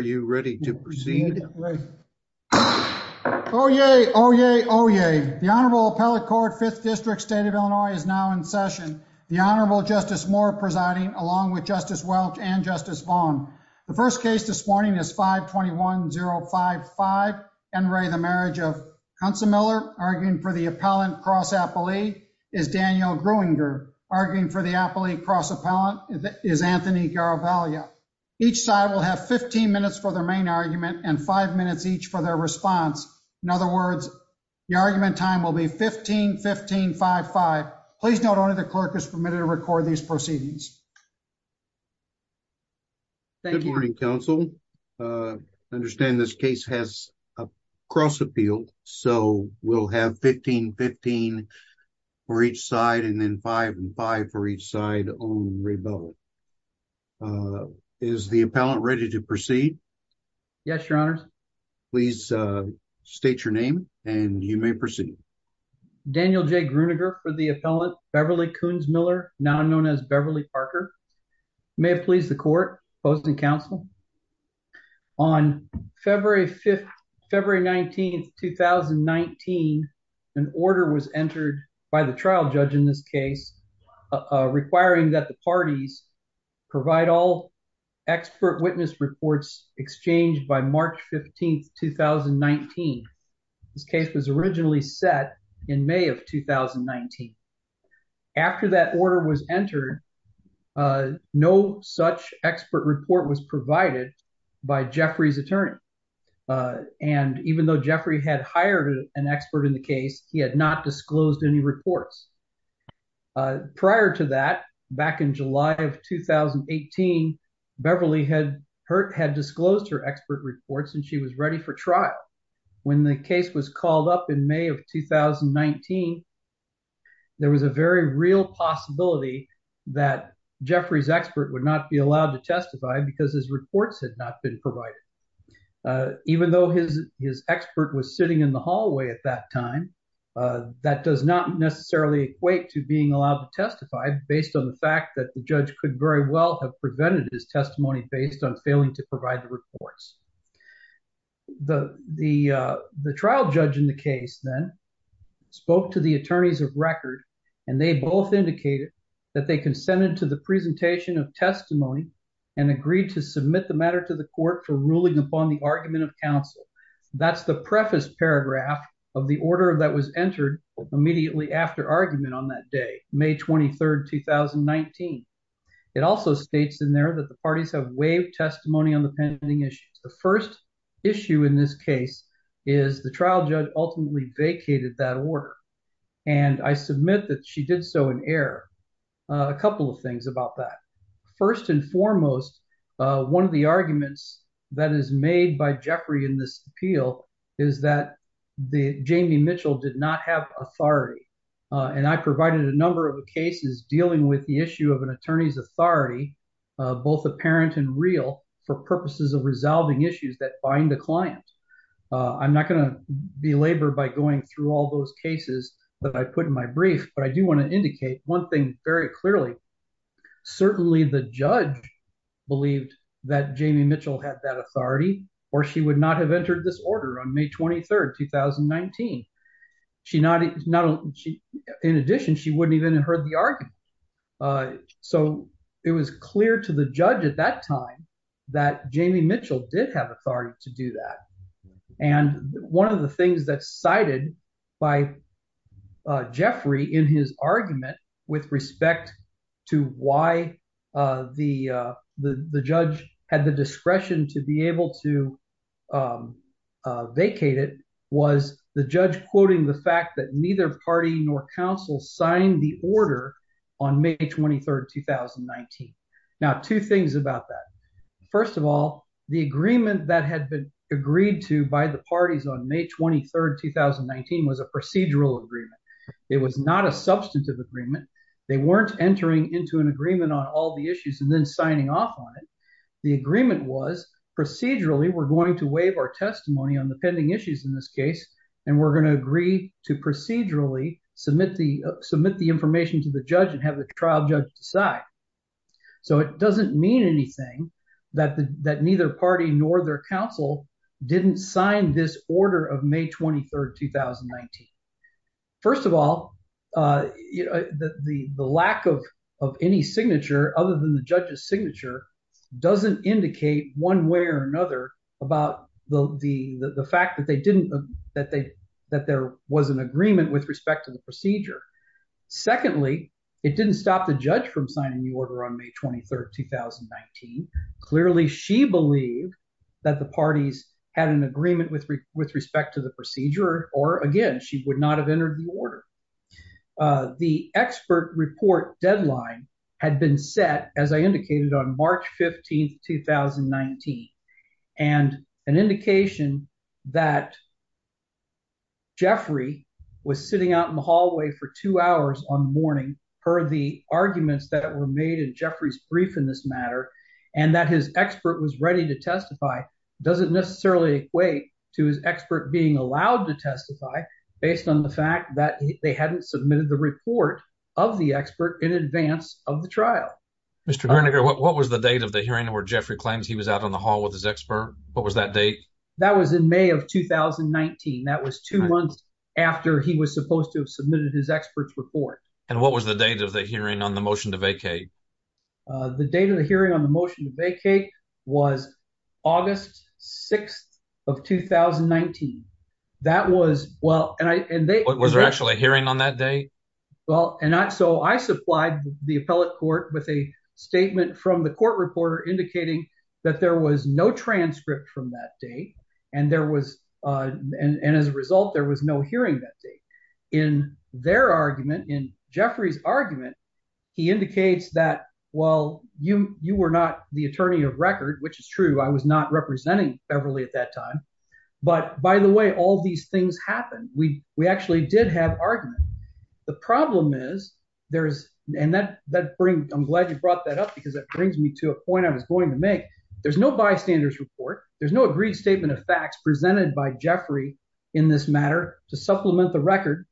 Are you ready to proceed? Oh, yay. Oh, yay. Oh, yay. The Honorable Appellate Court, 5th District, State of Illinois, is now in session. The Honorable Justice Moore presiding, along with Justice Welch and Justice Vaughn. The first case this morning is 521-055, N. Ray, the marriage of Kunsemiller, arguing for the appellant cross-appellee, is Danielle Gruinger. Arguing for the appellate cross-appellant is Anthony Garavaglia. Each side will have 15 minutes for their main argument and 5 minutes each for their response. In other words, the argument time will be 15-15-5-5. Please note only the clerk is permitted to record these proceedings. Good morning, counsel. I understand this case has a cross-appeal, so we'll have 15-15 for each side and then 5-5-5 for each side on N. Ray Bevel. Is the appellant ready to proceed? Yes, Your Honors. Please state your name and you may proceed. Daniel J. Gruinger for the appellant, Beverly Kunsemiller, now known as Beverly Parker. May it please the court, opposing counsel, on February 19, 2019, an order was entered by the trial judge in this case requiring that the parties provide all expert witness reports exchanged by March 15, 2019. This case was originally set in May of 2019. After that order was entered, no such expert report was provided by Jeffrey's attorney. And even though Jeffrey had hired an expert in the case, he had not disclosed any reports. Prior to that, back in July of 2018, Beverly had disclosed her expert reports and she was ready for trial. When the case was called up in May of 2019, there was a very real possibility that Jeffrey's reports had not been provided. Even though his expert was sitting in the hallway at that time, that does not necessarily equate to being allowed to testify based on the fact that the judge could very well have presented his testimony based on failing to provide the reports. The trial judge in the case then spoke to the attorneys of record and they both indicated that they consented to the presentation of testimony and agreed to submit the matter to the court for ruling upon the argument of counsel. That's the preface paragraph of the order that was entered immediately after argument on that day, May 23, 2019. It also states in there that the parties have waived testimony on the pending issues. The first issue in this case is the trial judge ultimately vacated that order. I submit that she did so in error. A couple of things about that. First and foremost, one of the arguments that is made by Jeffrey in this appeal is that Jamie Mitchell did not have authority and I provided a number of cases dealing with the issue of an attorney's authority, both apparent and real, for purposes of resolving issues that bind the client. I'm not going to belabor by going through all those cases that I put in my brief, but I do want to indicate one thing very clearly. Certainly the judge believed that Jamie Mitchell had that authority or she would not have entered this order on May 23, 2019. In addition, she wouldn't even have heard the argument. It was clear to the judge at that time that Jamie Mitchell did have authority to do that. One of the things that's cited by Jeffrey in his argument with respect to why the judge had the discretion to be able to vacate it was the judge quoting the fact that neither party nor council signed the order on May 23, 2019. Now two things about that. First of all, the agreement that had been agreed to by the parties on May 23, 2019 was a procedural agreement. It was not a substantive agreement. They weren't entering into an agreement on all the issues and then signing off on it. The agreement was procedurally, we're going to waive our testimony on the pending issues in this case and we're going to agree to procedurally submit the information to the judge and have the trial judge decide. So it doesn't mean anything that neither party nor their council didn't sign this order of May 23, 2019. First of all, the lack of any signature other than the judge's signature doesn't indicate one way or another about the fact that there was an agreement with respect to the procedure. Secondly, it didn't stop the judge from signing the order on May 23, 2019. Clearly she believed that the parties had an agreement with respect to the procedure or again, she would not have entered the order. The expert report deadline had been set, as I indicated, on March 15, 2019. And an indication that Jeffrey was sitting out in the hallway for two hours on the morning for the arguments that were made in Jeffrey's brief in this matter and that his expert was ready to testify doesn't necessarily equate to his expert being allowed to testify based on the fact that they hadn't submitted the report of the expert in advance of the trial. Mr. Gerniger, what was the date of the hearing where Jeffrey claims he was out in the hall with his expert? What was that date? That was in May of 2019. That was two months after he was supposed to have submitted his expert's report. And what was the date of the hearing on the motion to vacate? The date of the hearing on the motion to vacate was August 6th of 2019. Was there actually a hearing on that day? Well, and so I supplied the appellate court with a statement from the court reporter indicating that there was no transcript from that day. And as a result, there was no hearing that day. In their argument, in Jeffrey's argument, he indicates that, well, you were not the attorney of record, which is true. I was not representing Beverly at that time. But, by the way, all these things happened. We actually did have argument. The problem is, there's, and that brings, I'm glad you brought that up because it brings me to a point I was going to make. There's no bystander's report. There's no agreed statement of facts presented by Jeffrey in this matter to supplement the record.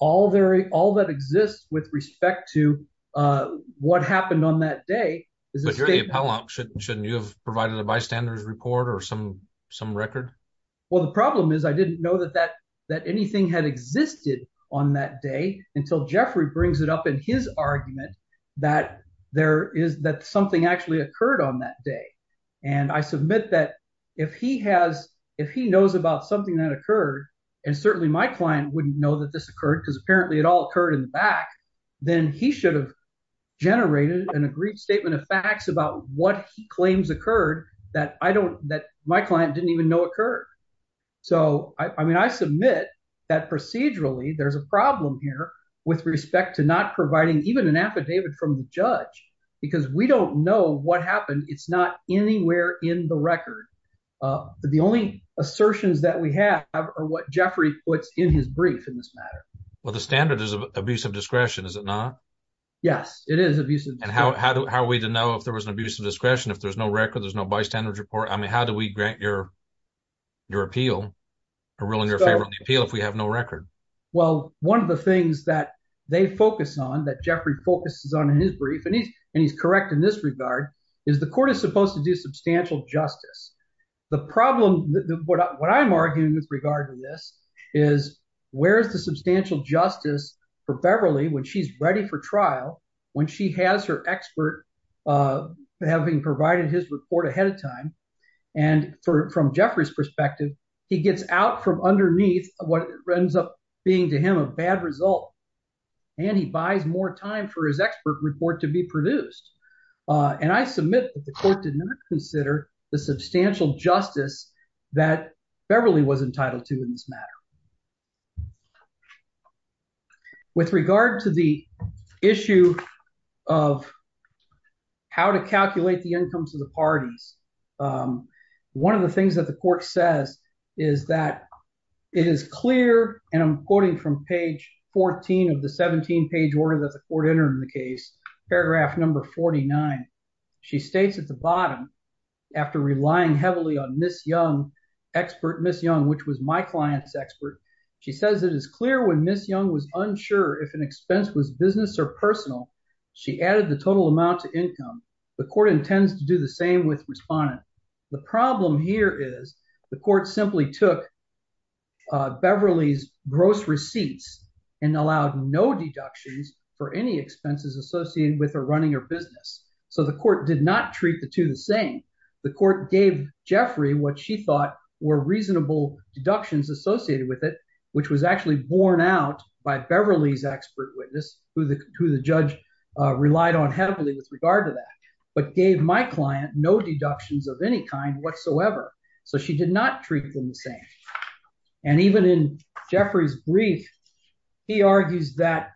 All that exists with respect to what happened on that day is a statement. Well, shouldn't you have provided a bystander's report or some record? Well, the problem is I didn't know that anything had existed on that day until Jeffrey brings it up in his argument that something actually occurred on that day. And I submit that if he knows about something that occurred, and certainly my client wouldn't know that this occurred because apparently it all occurred in the back, then he should have generated an agreed statement of facts about what he claims occurred that I don't, that my client didn't even know occurred. So I mean, I submit that procedurally there's a problem here with respect to not providing even an affidavit from the judge because we don't know what happened. It's not anywhere in the record. The only assertions that we have are what Jeffrey puts in his brief in this matter. Well, the standard is of abuse of discretion, is it not? Yes, it is abuse of discretion. And how are we to know if there was an abuse of discretion if there's no record, there's no bystander's report? I mean, how do we grant your appeal, a ruling in favor of the appeal if we have no record? Well, one of the things that they focus on, that Jeffrey focuses on in his brief, and he's correct in this regard, is the court is supposed to do substantial justice. The problem, what I'm arguing with regard to this, is where's the substantial justice for Beverly when she's ready for trial, when she has her expert having provided his report ahead of time, and from Jeffrey's perspective, he gets out from underneath what ends up being to him a bad result, and he buys more time for his expert report to be produced. And I submit that the court did not consider the substantial justice that Beverly was entitled to in this matter. With regard to the issue of how to calculate the incomes of the parties, one of the things that the court says is that it is clear, and I'm quoting from page 14 of the 17-page order that the court entered in the case, paragraph number 49. She states at the bottom, after relying heavily on Ms. Young, expert Ms. Young, which was my client's expert, she says it is clear when Ms. Young was unsure if an expense was business or personal, she added the total amount to income. The court intends to do the same with respondent. The problem here is the court simply took Beverly's gross receipts and allowed no deductions for any expenses associated with her running her business. So the court did not treat the two the same. The court gave Jeffrey what she thought were reasonable deductions associated with it, which was actually borne out by Beverly's expert witness, who the judge relied on heavily with regard to that, but gave my client no deductions of any kind whatsoever. So she did not treat them the same. And even in Jeffrey's brief, he argues that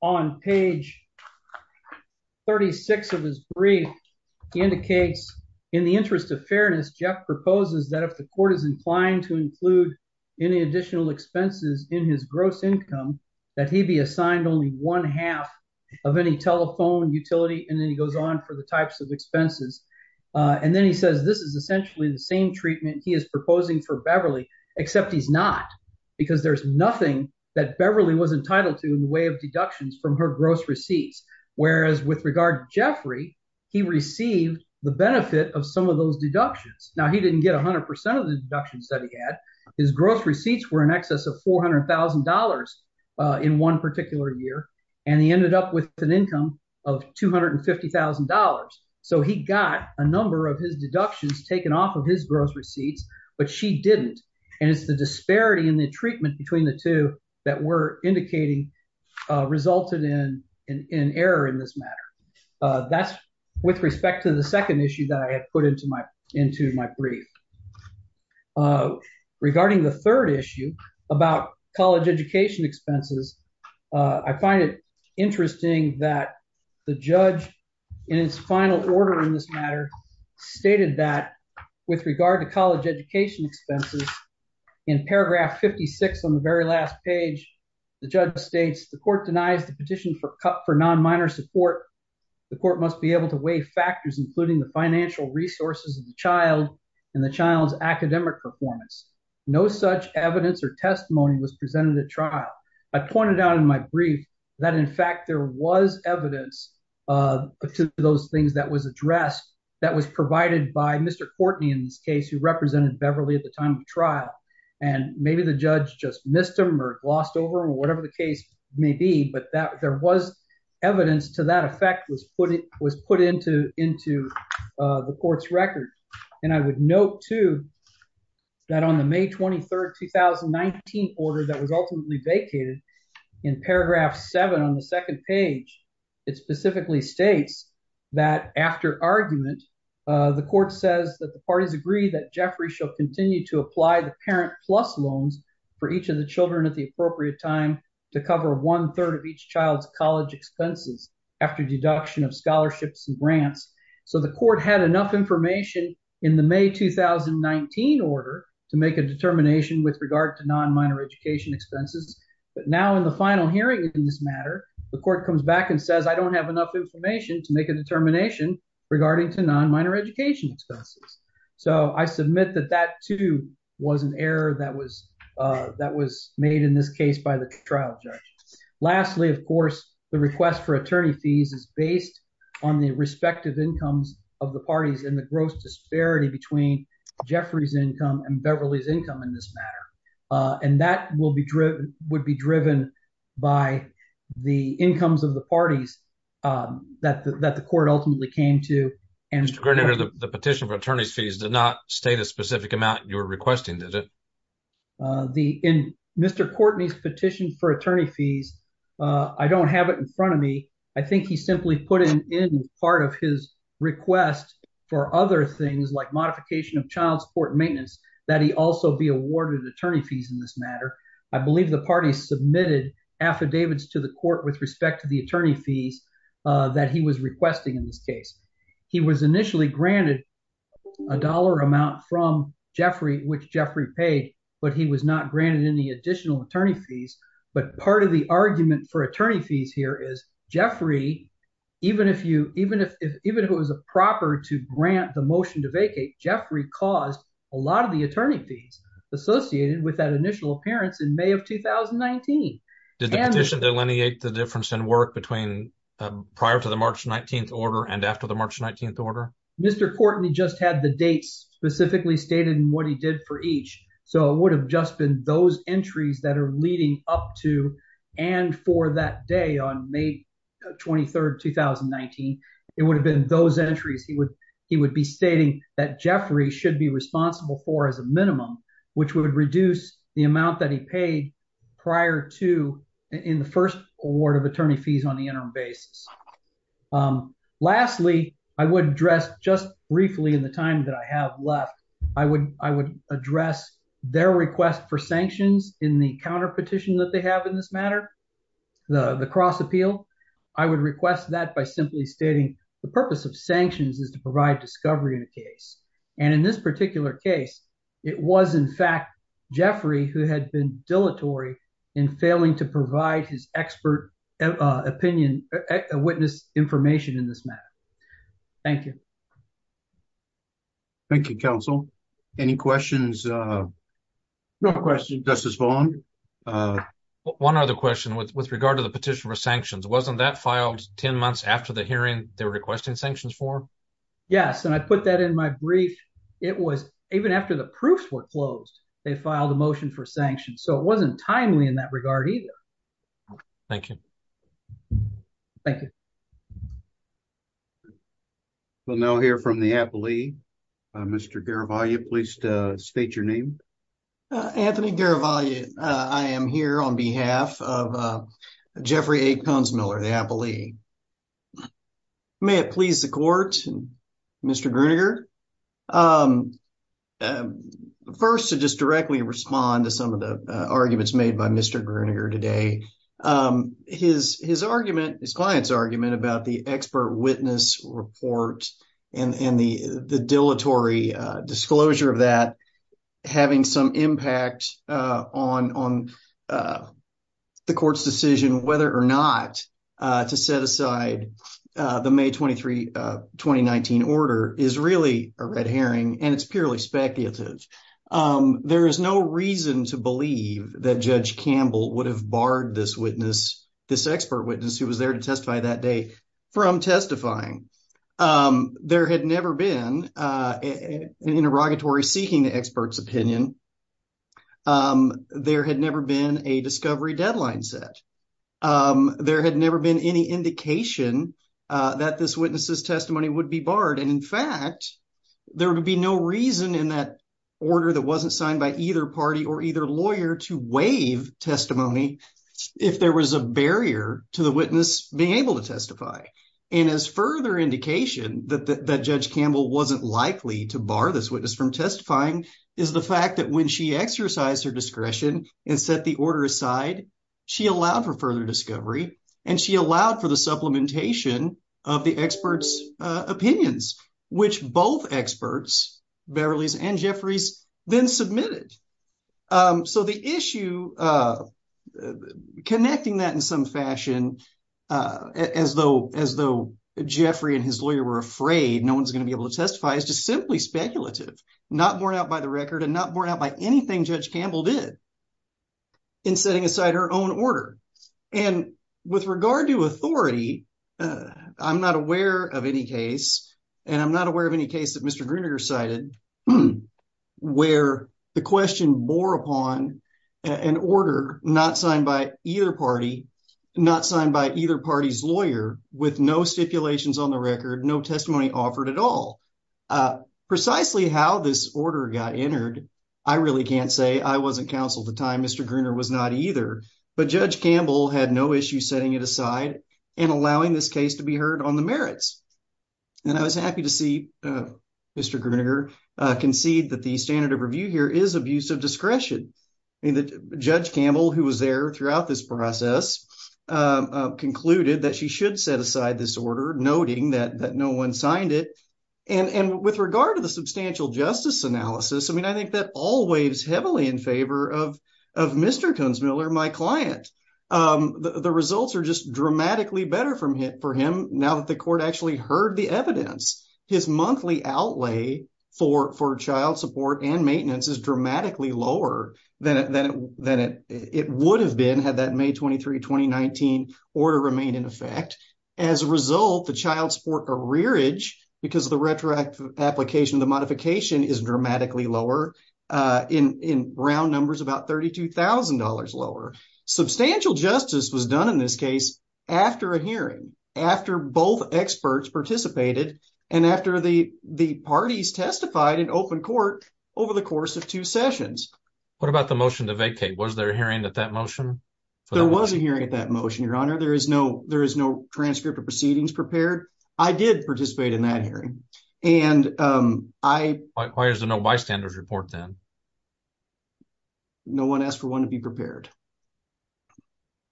on page 36 of his brief, he indicates, in the interest of fairness, Jeff proposes that if the court is inclined to include any additional expenses in his gross income, that he be assigned only one half of any telephone utility, and then he goes on for the types of expenses. And then he says this is essentially the same treatment he is proposing for Beverly, except he's not, because there's nothing that Beverly was entitled to in the way of deductions from her gross receipts, whereas with regard to Jeffrey, he received the benefit of some of those deductions. Now, he didn't get 100% of the deductions that he had. His gross receipts were in excess of $400,000 in one particular year, and he ended up with an income of $250,000. So he got a number of his deductions taken off of his gross receipts, but she didn't. And it's the disparity in the treatment between the two that we're indicating resulted in error in this matter. That's with respect to the second issue that I have put into my brief. Regarding the third issue about college education expenses, I find it interesting that the judge in its final order in this matter stated that with regard to college education expenses, in paragraph 56 on the very last page, the judge states, the court denies the petition for non-minor support. The court must be able to weigh factors including the financial resources of the child and the child's academic performance. No such evidence or testimony was presented at trial. I pointed out in my brief that in fact there was evidence to those things that was addressed that was provided by Mr. Courtney in this case, who represented Beverly at the time of the trial. And maybe the judge just missed him or glossed over him or whatever the case may be, but there was evidence to that effect was put into the court's record. And I would note too that on the May 23rd, 2019 order that was ultimately vacated in paragraph seven on the second page, it specifically states that after argument, the court says that the parties agree that Jeffrey shall continue to apply the parent plus loans for each of the children at the appropriate time to cover one-third of each child's college expenses after deduction of scholarships and grants. So the court had enough information in the May 2019 order to make a determination with regard to non-minor education expenses. But now in the final hearing in this matter, the court comes back and says, I don't have enough information to make a determination regarding to non-minor education expenses. So I submit that that too was an error that was made in this case by the trial judge. Lastly, of course, the request for attorney fees is based on the respective incomes of the parties and the gross disparity between Jeffrey's income and Beverly's income in this matter. And that would be driven by the incomes of the parties that the court ultimately came to. Mr. Grenadier, the petition for attorney's fees did not state a specific amount you were requesting, did it? In Mr. Courtney's petition for attorney fees, I don't have it in front of me. I think he simply put in part of his request for other things like modification of child support and maintenance that he also be awarded attorney fees in this matter. I believe the parties submitted affidavits to the court with respect to the attorney fees that he was requesting in this case. He was initially granted a dollar amount from Jeffrey, which Jeffrey paid, but he was not granted any additional attorney fees. But part of the argument for attorney fees here is Jeffrey, even if it was a proper to grant the motion to vacate, Jeffrey caused a lot of the attorney fees associated with that initial appearance in May of 2019. Did the petition delineate the difference in work between prior to the March 19th order and after the March 19th order? Mr. Courtney just had the dates specifically stated in what he did for each. So it would have just been those entries that are leading up to and for that day on May 23rd, 2019, it would have been those entries he would be stating that Jeffrey should be responsible for as a minimum, which would reduce the amount that he paid prior to in the first award of attorney fees on the interim basis. Lastly, I would address just briefly in the time that I have left, I would address their request for sanctions in the counterpetition that they have in this matter, the cross appeal. I would request that by simply stating the purpose of sanctions is to provide discovery in the case. And in this particular case, it was in fact, Jeffrey who had been dilatory in failing to provide his expert opinion, witness information in this matter. Thank you. Thank you, counsel. Any questions? No questions. Justice Vaughn. One other question with regard to the petition for sanctions, wasn't that filed 10 months after the hearing they were requesting sanctions for? Yes. And I put that in my brief. It was even after the proofs were closed, they filed a motion for sanctions. So it wasn't timely in that regard either. Thank you. Thank you. We'll now hear from the appellee, Mr. Garavaglia, please state your name. Anthony Garavaglia. I am here on behalf of Jeffrey A. Ponsmiller, the appellee. May it please the court, Mr. Grueninger. First, to just directly respond to some of the arguments made by Mr. Grueninger today. His argument, his client's argument about the expert witness report and the dilatory disclosure of that having some impact on the court's decision whether or not to set aside the May 23, 2019 order is really a red herring and it's purely speculative. There is no reason to believe that Judge Campbell would have barred this witness, this expert witness who was there to testify that day from testifying. There had never been an interrogatory seeking the expert's opinion. There had never been a discovery deadline set. There had never been any indication that this witness's testimony would be barred. And in fact, there would be no reason in that order that wasn't signed by either party or either lawyer to waive testimony if there was a barrier to the witness being able to testify. And as further indication that Judge Campbell wasn't likely to bar this witness from testifying is the fact that when she exercised her discretion and set the order aside, she allowed for further discovery and she allowed for the supplementation of the expert's opinions, which both experts, Beverley's and Jeffrey's, then submitted. So the issue connecting that in some fashion as though Jeffrey and his lawyer were afraid no one's going to be able to testify is just simply speculative, not borne out by the record and not borne out by anything Judge Campbell did in setting aside her own order. And with regard to authority, I'm not aware of any case and I'm not aware of any case that Mr. Gruninger cited where the question bore upon an order not signed by either party, not signed by either party's lawyer, with no stipulations on the record, no testimony offered at all. Precisely how this order got entered, I really can't say. I wasn't counsel at the time. Mr. Gruninger was not either. But Judge Campbell had no issue setting it aside and allowing this case to be heard on the merits. And I was happy to see Mr. Gruninger concede that the standard of review here is abuse of discretion. Judge Campbell, who was there throughout this process, concluded that she should set aside this order, noting that no one signed it. And with regard to the substantial justice analysis, I mean, I think that all waves heavily in favor of Mr. Kunzmiller, my client. The results are just dramatically better for him now that the court actually heard the evidence. His monthly outlay for child support and maintenance is dramatically lower than it would have been had that May 23, 2019 order remained in effect. As a result, the child support arrearage because of the retroactive application of the modification is dramatically lower. In round numbers, about $32,000 lower. Substantial justice was done in this case after a hearing. After both experts participated and after the parties testified in open court over the course of two sessions. What about the motion to vacate? Was there a hearing at that motion? There was a hearing at that motion, Your Honor. There is no transcript of proceedings prepared. I did participate in that hearing. And I... Why is there no bystanders report then? No one asked for one to be prepared.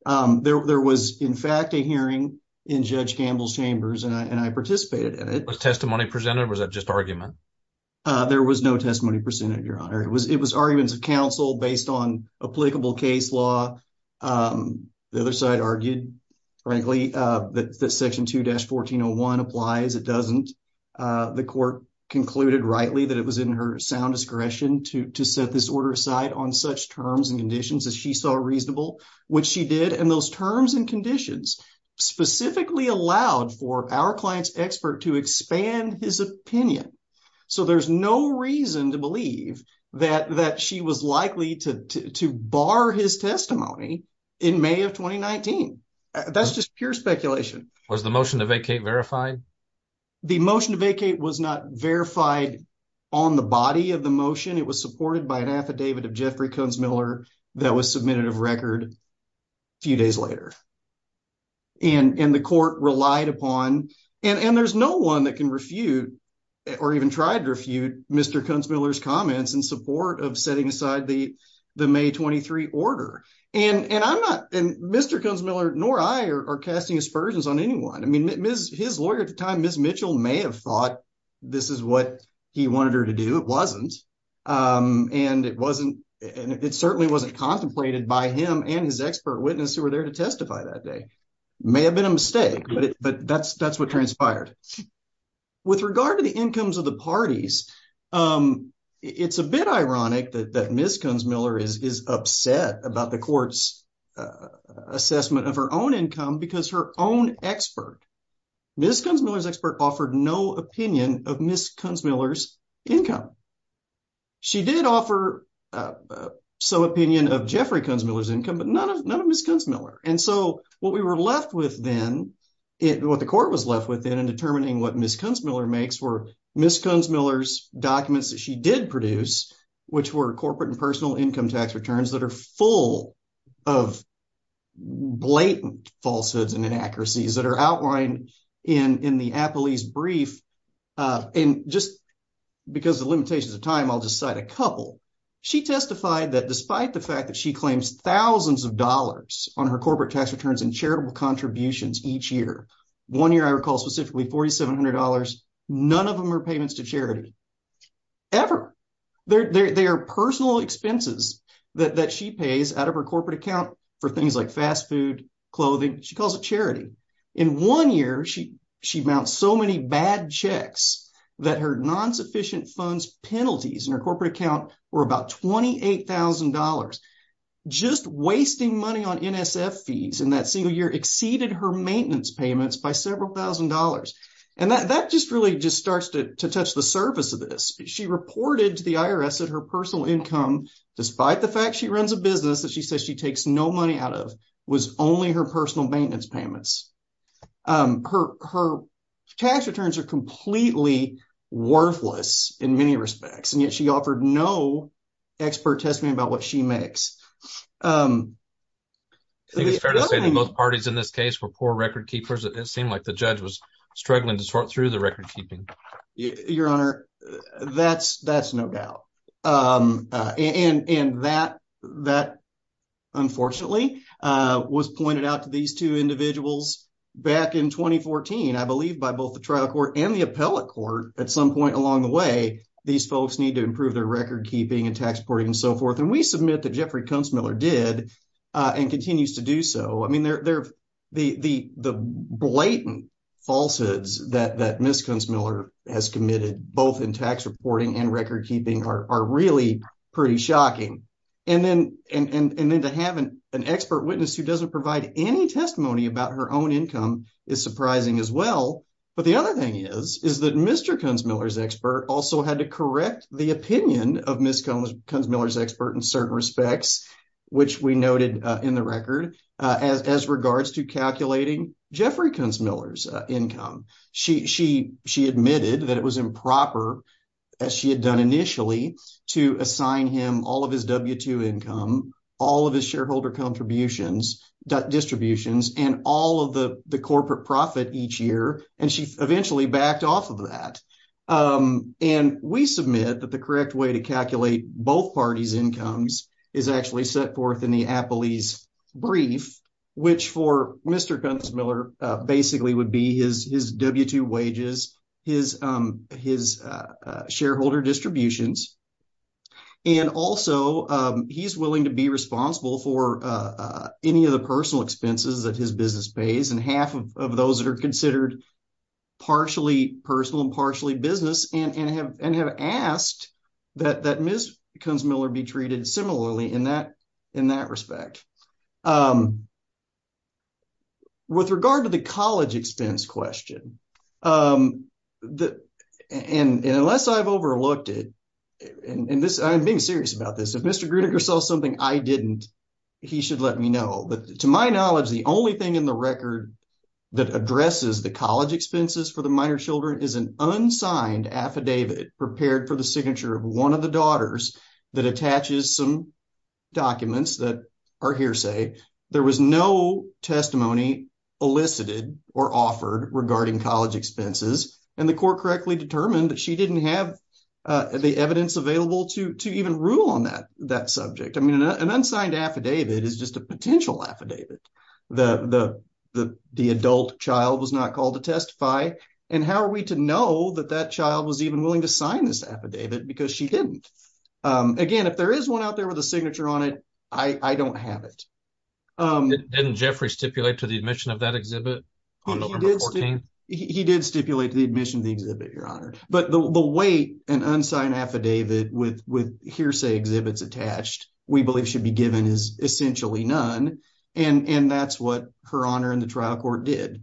There was, in fact, a hearing in Judge Gamble's chambers and I participated in it. Was testimony presented or was that just argument? There was no testimony presented, Your Honor. It was arguments of counsel based on applicable case law. The other side argued, frankly, that Section 2-1401 applies, it doesn't. The court concluded rightly that it was in her sound discretion to set this order aside on such terms and conditions as she saw reasonable, which she did. And those terms and conditions specifically allowed for our client's expert to expand his opinion. So there's no reason to believe that she was likely to bar his testimony in May of 2019. That's just pure speculation. Was the motion to vacate verified? The motion to vacate was not verified on the body of the motion. It was supported by an affidavit of Jeffrey Kunzmiller that was submitted of record a few days later. And the court relied upon... And there's no one that can refute or even tried to refute Mr. Kunzmiller's comments in support of setting aside the May 23 order. And I'm not... And Mr. Kunzmiller nor I are casting aspersions on anyone. I mean, his lawyer at the time, Ms. Mitchell, may have thought this is what he wanted her to do. It wasn't, and it certainly wasn't contemplated by him and his expert witness who were there to testify that day. May have been a mistake, but that's what transpired. With regard to the incomes of the parties, it's a bit ironic that Ms. Kunzmiller is upset about the court's assessment of her own income because her own expert, Ms. Kunzmiller's expert offered no opinion of Ms. Kunzmiller's income. She did offer some opinion of Jeffrey Kunzmiller's income, but none of Ms. Kunzmiller. And so what we were left with then, what the court was left with then in determining what Ms. Kunzmiller makes were Ms. Kunzmiller's documents that she did produce, which were corporate and personal income tax returns that are full of blatant falsehoods and inaccuracies that are outlined in the Apolyse brief. And just because of limitations of time, I'll just cite a couple. She testified that despite the fact that she claims thousands of dollars on her corporate tax returns and charitable contributions each year, one year I recall specifically $4,700, none of them are payments to charity ever. They are personal expenses that she pays out of her corporate account for things like fast food, clothing. She calls it charity. In one year, she mounts so many bad checks that her non-sufficient funds penalties in her corporate account were about $28,000. Just wasting money on NSF fees in that single year exceeded her maintenance payments by several thousand dollars. And that just really just starts to touch the surface of this. She reported to the IRS that her personal income, despite the fact she runs a business that she says she takes no money out of, was only her personal maintenance payments. Her tax returns are completely worthless in many respects, and yet she offered no expert testimony about what she makes. I think it's fair to say that both parties in this case were poor record keepers. It seemed like the judge was struggling to sort through the record keeping. Your Honor, that's no doubt. And that, unfortunately, was pointed out to these two individuals back in 2014, I believe, by both the trial court and the appellate court. At some point along the way, these folks need to improve their record keeping and tax reporting and so forth. And we submit that Jeffrey Kunstmiller did and continues to do so. I mean, the blatant falsehoods that Ms. Kunstmiller has committed, both in tax reporting and record keeping, are really pretty shocking. And then to have an expert witness who doesn't provide any testimony about her own income is surprising as well. But the other thing is, is that Mr. Kunstmiller's expert also had to correct the opinion of Ms. Kunstmiller's expert in certain respects, which we noted in the record, as regards to calculating Jeffrey Kunstmiller's income. She admitted that it was improper, as she had done initially, to assign him all of his W-2 income, all of his shareholder contributions, distributions, and all of the corporate profit each year. And she eventually backed off of that. And we submit that the correct way to calculate both parties' incomes is actually set forth in the Appley's brief, which for Mr. Kunstmiller basically would be his W-2 wages, his shareholder distributions, and also he's willing to be responsible for any of the personal expenses that his business pays, and half of those that are considered partially personal and have asked that Ms. Kunstmiller be treated similarly in that respect. With regard to the college expense question, and unless I've overlooked it, and I'm being serious about this, if Mr. Gruninger saw something I didn't, he should let me know. To my knowledge, the only thing in the record that addresses the college expenses for the prepared for the signature of one of the daughters that attaches some documents that are hearsay. There was no testimony elicited or offered regarding college expenses, and the court correctly determined that she didn't have the evidence available to even rule on that subject. I mean, an unsigned affidavit is just a potential affidavit. The adult child was not called to testify, and how are we to know that that child was even willing to sign this affidavit because she didn't? Again, if there is one out there with a signature on it, I don't have it. Didn't Jeffrey stipulate to the admission of that exhibit on November 14th? He did stipulate to the admission of the exhibit, Your Honor. But the way an unsigned affidavit with hearsay exhibits attached we believe should be given is essentially none, and that's what Her Honor in the trial court did.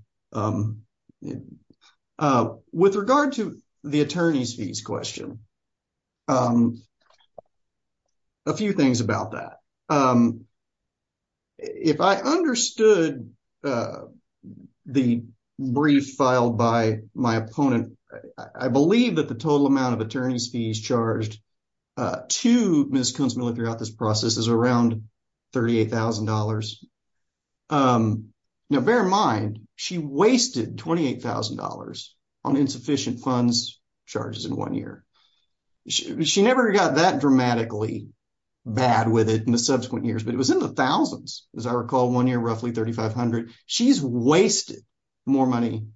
With regard to the attorney's fees question, a few things about that. If I understood the brief filed by my opponent, I believe that the total amount of attorney's fees charged to Ms. Kuntz-Miller throughout this process is around $38,000. Now, bear in mind, she wasted $28,000 on insufficient funds charges in one year. She never got that dramatically bad with it in the subsequent years, but it was in the thousands. As I recall, one year, roughly $3,500. She's wasted more money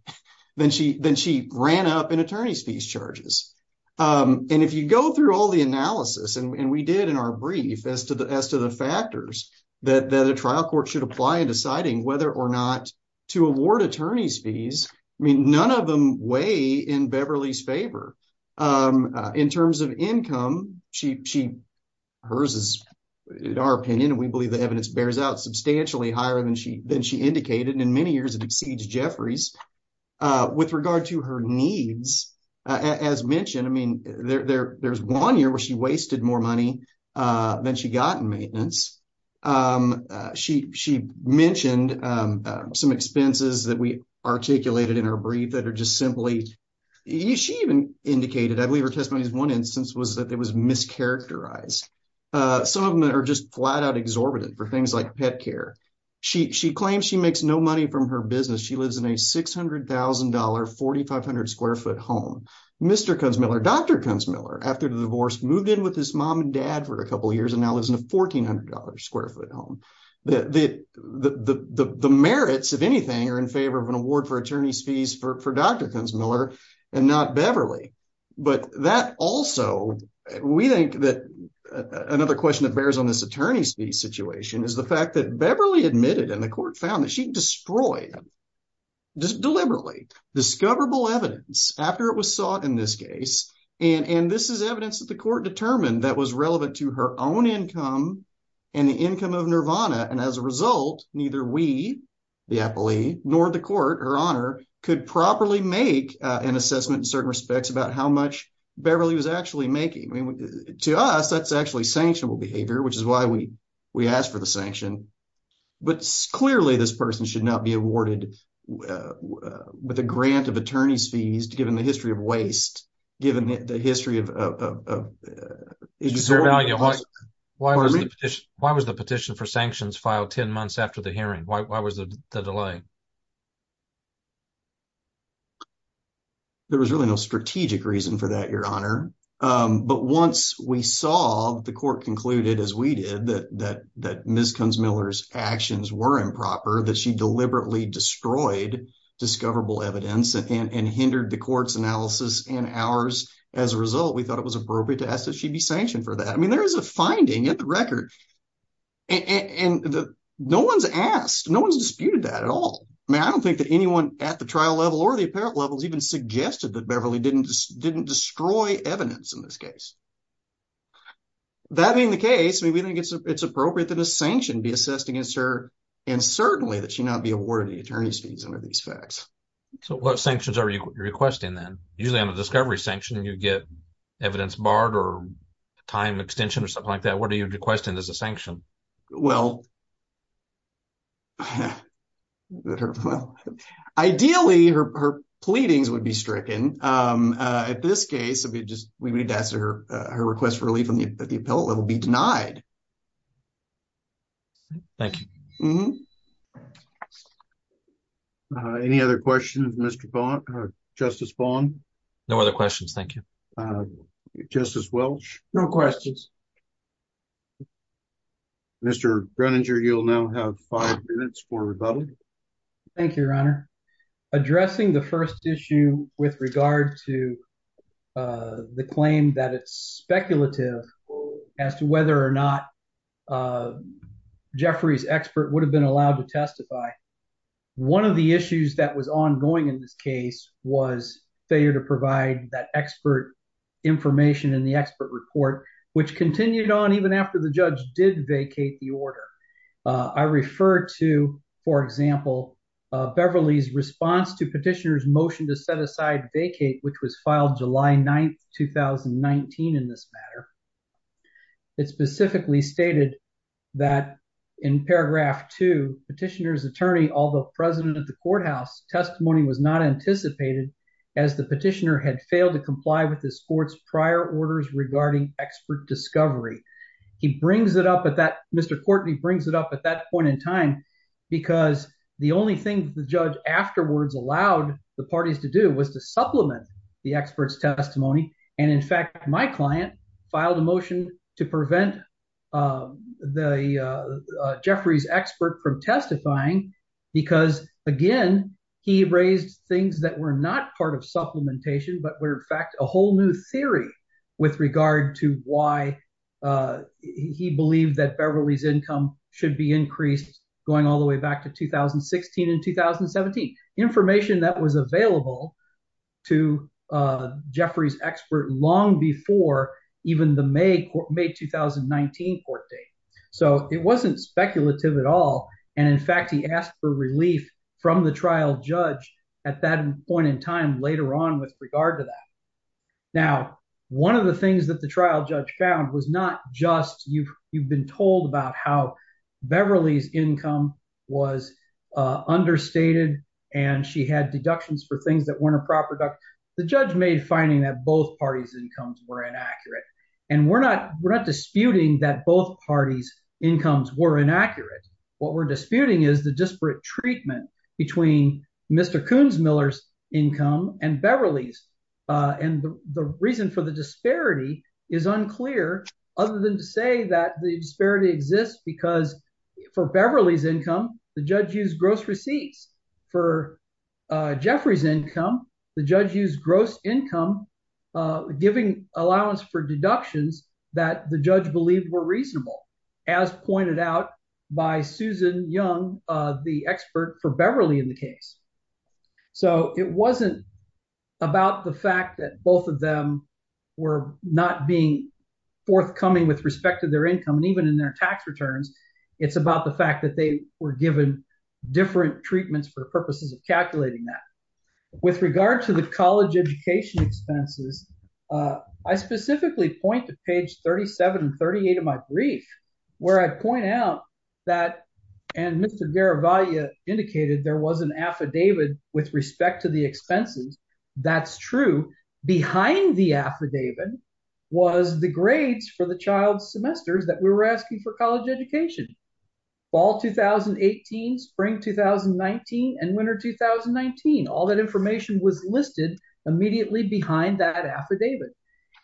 than she ran up in attorney's fees charges. And if you go through all the analysis, and we did in our brief, as to the factors that the trial court should apply in deciding whether or not to award attorney's fees, I mean, none of them weigh in Beverly's favor. In terms of income, hers is, in our opinion, and we believe the evidence bears out, substantially higher than she indicated. And in many years, it exceeds Jeffrey's. With regard to her needs, as mentioned, I mean, there's one year where she wasted more money than she got in maintenance. She mentioned some expenses that we articulated in her brief that are just simply, she even indicated, I believe her testimony in one instance was that it was mischaracterized. Some of them are just flat-out exorbitant for things like pet care. She claims she makes no money from her business. She lives in a $600,000, 4,500-square-foot home. Mr. Kunzmiller, Dr. Kunzmiller, after the divorce, moved in with his mom and dad for a couple of years, and now lives in a $1,400-square-foot home. The merits, if anything, are in favor of an award for attorney's fees for Dr. Kunzmiller, and not Beverly. But that also, we think that another question that bears on this attorney's fees situation is the fact that Beverly admitted, and the court found that she destroyed, just deliberately, discoverable evidence after it was sought in this case, and this is evidence that the court determined that was relevant to her own income and the income of Nirvana, and as a result, neither we, the appellee, nor the court, her honor, could properly make an assessment in certain respects about how much Beverly was actually making. To us, that's actually sanctionable behavior, which is why we asked for the sanction. But clearly, this person should not be awarded with a grant of attorney's fees, given the history of waste, given the history of exorbitant costs. Why was the petition for sanctions filed 10 months after the hearing? Why was the delay? There was really no strategic reason for that, your honor. But once we saw the court concluded, as we did, that Ms. Kunzmiller's actions were improper, that she deliberately destroyed discoverable evidence and hindered the court's analysis and ours, as a result, we thought it was appropriate to ask that she be sanctioned for that. I mean, there is a finding in the record, and no one's asked, no one's disputed that at all. I mean, I don't think that anyone at the trial level or the appellate level has even suggested that Beverly didn't destroy evidence in this case. That being the case, I mean, we think it's appropriate that a sanction be assessed against her, and certainly that she not be awarded any attorney's fees under these facts. So what sanctions are you requesting then? Usually on a discovery sanction, you get evidence barred or time extension or something like that. What are you requesting as a sanction? Well, ideally, her pleadings would be stricken. At this case, we would need to ask her request for relief at the appellate level be denied. Thank you. Any other questions, Justice Bond? No other questions, thank you. Justice Welch? No questions. Mr. Groninger, you'll now have five minutes for rebuttal. Thank you, Your Honor. Addressing the first issue with regard to the claim that it's speculative as to whether or not Jeffrey's expert would have been allowed to testify, one of the issues that was ongoing in this case was failure to provide that expert information in the expert report, which continued on even after the judge did vacate the order. I refer to, for example, Beverly's response to petitioner's motion to set aside vacate, which was filed July 9th, 2019 in this matter. It specifically stated that in paragraph two, petitioner's attorney, although president of the courthouse, testimony was not anticipated as the petitioner had failed to comply with this court's prior orders regarding expert discovery. He brings it up at that, Mr. Courtney brings it up at that point in time because the only thing the judge afterwards allowed the parties to do was to supplement the expert's testimony. And in fact, my client filed a motion to prevent the Jeffrey's expert from testifying because again, he raised things that were not part of supplementation, but were in fact a whole new theory with regard to why he believed that Beverly's income should be increased going all the way back to 2016 and 2017. Information that was available to Jeffrey's expert long before even the May 2019 court date. So it wasn't speculative at all. And in fact, he asked for relief from the trial judge at that point in time later on with regard to that. Now, one of the things that the trial judge found was not just you've been told about how Beverly's income was understated and she had deductions for things that weren't a proper deduction. The judge made finding that both parties' incomes were inaccurate. And we're not disputing that both parties' incomes were inaccurate. What we're disputing is the disparate treatment between Mr. Kunzmiller's income and Beverly's. And the reason for the disparity is unclear other than to say that the disparity exists because for Beverly's income, the judge used gross receipts. For Jeffrey's income, the judge used gross income, giving allowance for deductions that the judge believed were reasonable, as pointed out by Susan Young, the expert for Beverly in the case. So it wasn't about the fact that both of them were not being forthcoming with respect to their income and even in their tax returns. It's about the fact that they were given different treatments for the purposes of calculating that. With regard to the college education expenses, I specifically point to page 37 and 38 of my brief where I point out that and Mr. Garavaglia indicated there was an affidavit with respect to the expenses. That's true. Behind the affidavit was the grades for the child's semesters that we were asking for fall 2018, spring 2019, and winter 2019. All that information was listed immediately behind that affidavit.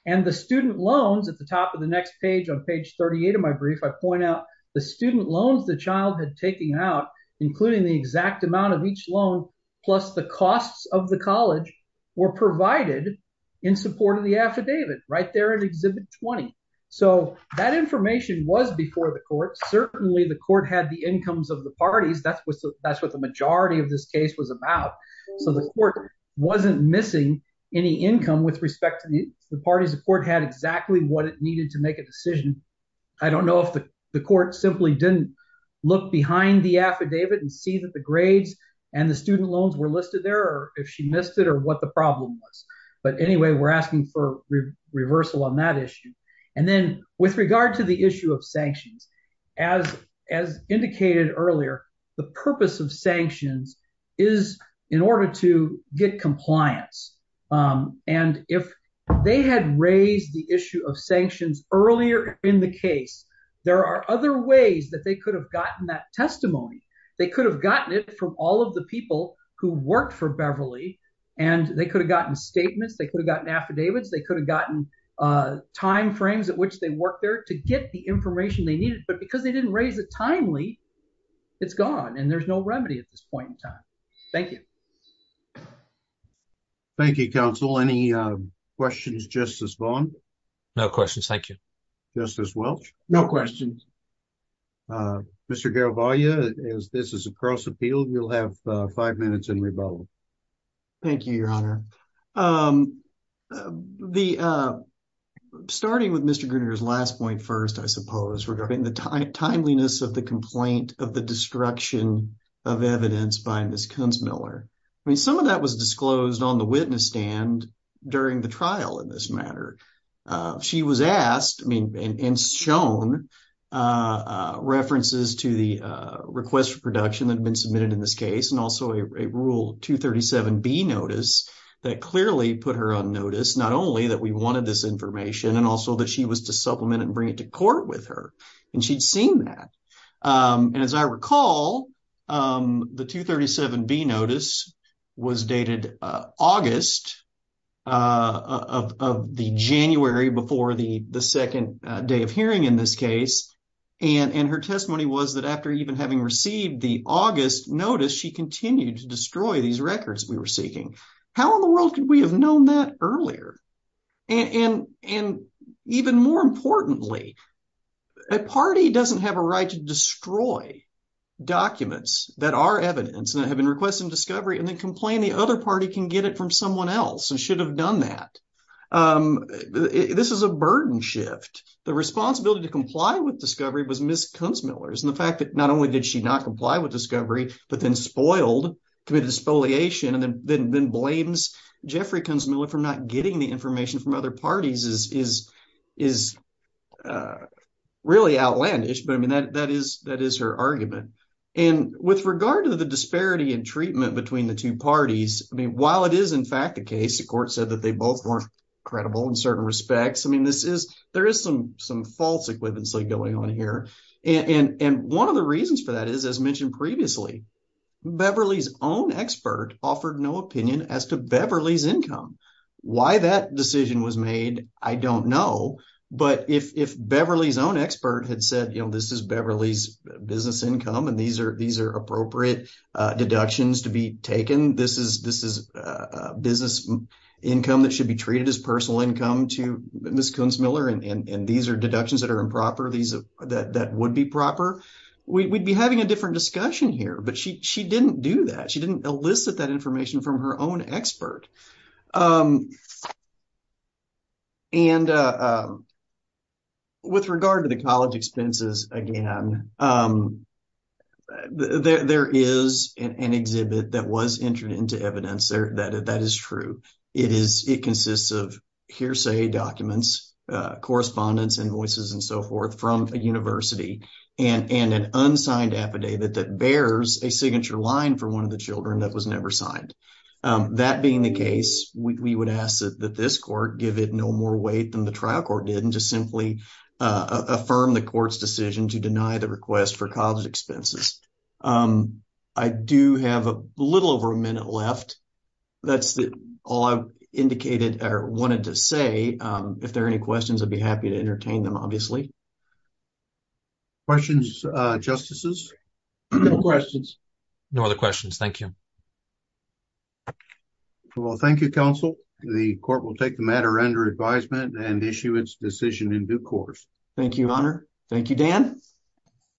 And the student loans at the top of the next page on page 38 of my brief, I point out the student loans the child had taken out, including the exact amount of each loan, plus the costs of the college were provided in support of the affidavit right there in Exhibit 20. So that information was before the court. Certainly, the court had the incomes of the parties. That's what the majority of this case was about. So the court wasn't missing any income with respect to the parties. The court had exactly what it needed to make a decision. I don't know if the court simply didn't look behind the affidavit and see that the grades and the student loans were listed there or if she missed it or what the problem was. But anyway, we're asking for reversal on that issue. And then with regard to the issue of sanctions, as indicated earlier, the purpose of sanctions is in order to get compliance. And if they had raised the issue of sanctions earlier in the case, there are other ways that they could have gotten that testimony. They could have gotten it from all of the people who worked for Beverly, and they could have gotten statements. They could have gotten affidavits. They could have gotten time frames at which they worked there to get the information they needed. But because they didn't raise it timely, it's gone. And there's no remedy at this point in time. Thank you. Thank you, counsel. Any questions, Justice Vaughn? No questions. Thank you. Justice Welch? No questions. Mr. Garavaglia, this is a cross appeal. You'll have five minutes in rebuttal. Thank you, Your Honor. The starting with Mr. Gruner's last point first, I suppose, regarding the timeliness of the complaint of the destruction of evidence by Ms. Kunzmiller. I mean, some of that was disclosed on the witness stand during the trial in this matter. She was asked, I mean, and shown references to the request for production that had been submitted in this case, and also a Rule 237B notice that clearly put her on notice, not that we wanted this information, and also that she was to supplement and bring it to court with her. And she'd seen that. And as I recall, the 237B notice was dated August of the January before the second day of hearing in this case. And her testimony was that after even having received the August notice, she continued to destroy these records we were seeking. How in the world could we have known that earlier? And even more importantly, a party doesn't have a right to destroy documents that are evidence that have been requested in discovery and then complain the other party can get it from someone else and should have done that. This is a burden shift. The responsibility to comply with discovery was Ms. Kunzmiller's. And the fact that not only did she not comply with discovery, but then spoiled, committed parties is really outlandish. But I mean, that is her argument. And with regard to the disparity in treatment between the two parties, I mean, while it is in fact the case, the court said that they both weren't credible in certain respects. I mean, there is some false equivalency going on here. And one of the reasons for that is, as mentioned previously, Beverly's own expert offered no opinion as to Beverly's income. Why that decision was made, I don't know. But if Beverly's own expert had said, you know, this is Beverly's business income and these are appropriate deductions to be taken, this is business income that should be treated as personal income to Ms. Kunzmiller and these are deductions that are improper, that would be proper, we'd be having a different discussion here. But she didn't do that. She didn't elicit that information from her own expert. And with regard to the college expenses, again, there is an exhibit that was entered into evidence that is true. It consists of hearsay documents, correspondence, invoices, and so forth from a university and an unsigned affidavit that bears a signature line for one of the children that was never signed. That being the case, we would ask that this court give it no more weight than the trial court did and just simply affirm the court's decision to deny the request for college expenses. I do have a little over a minute left. That's all I indicated or wanted to say. If there are any questions, I'd be happy to entertain them, obviously. Questions, Justices? No questions. No other questions. Thank you. Well, thank you, Counsel. The court will take the matter under advisement and issue its decision in due course. Thank you, Honor. Thank you, Dan.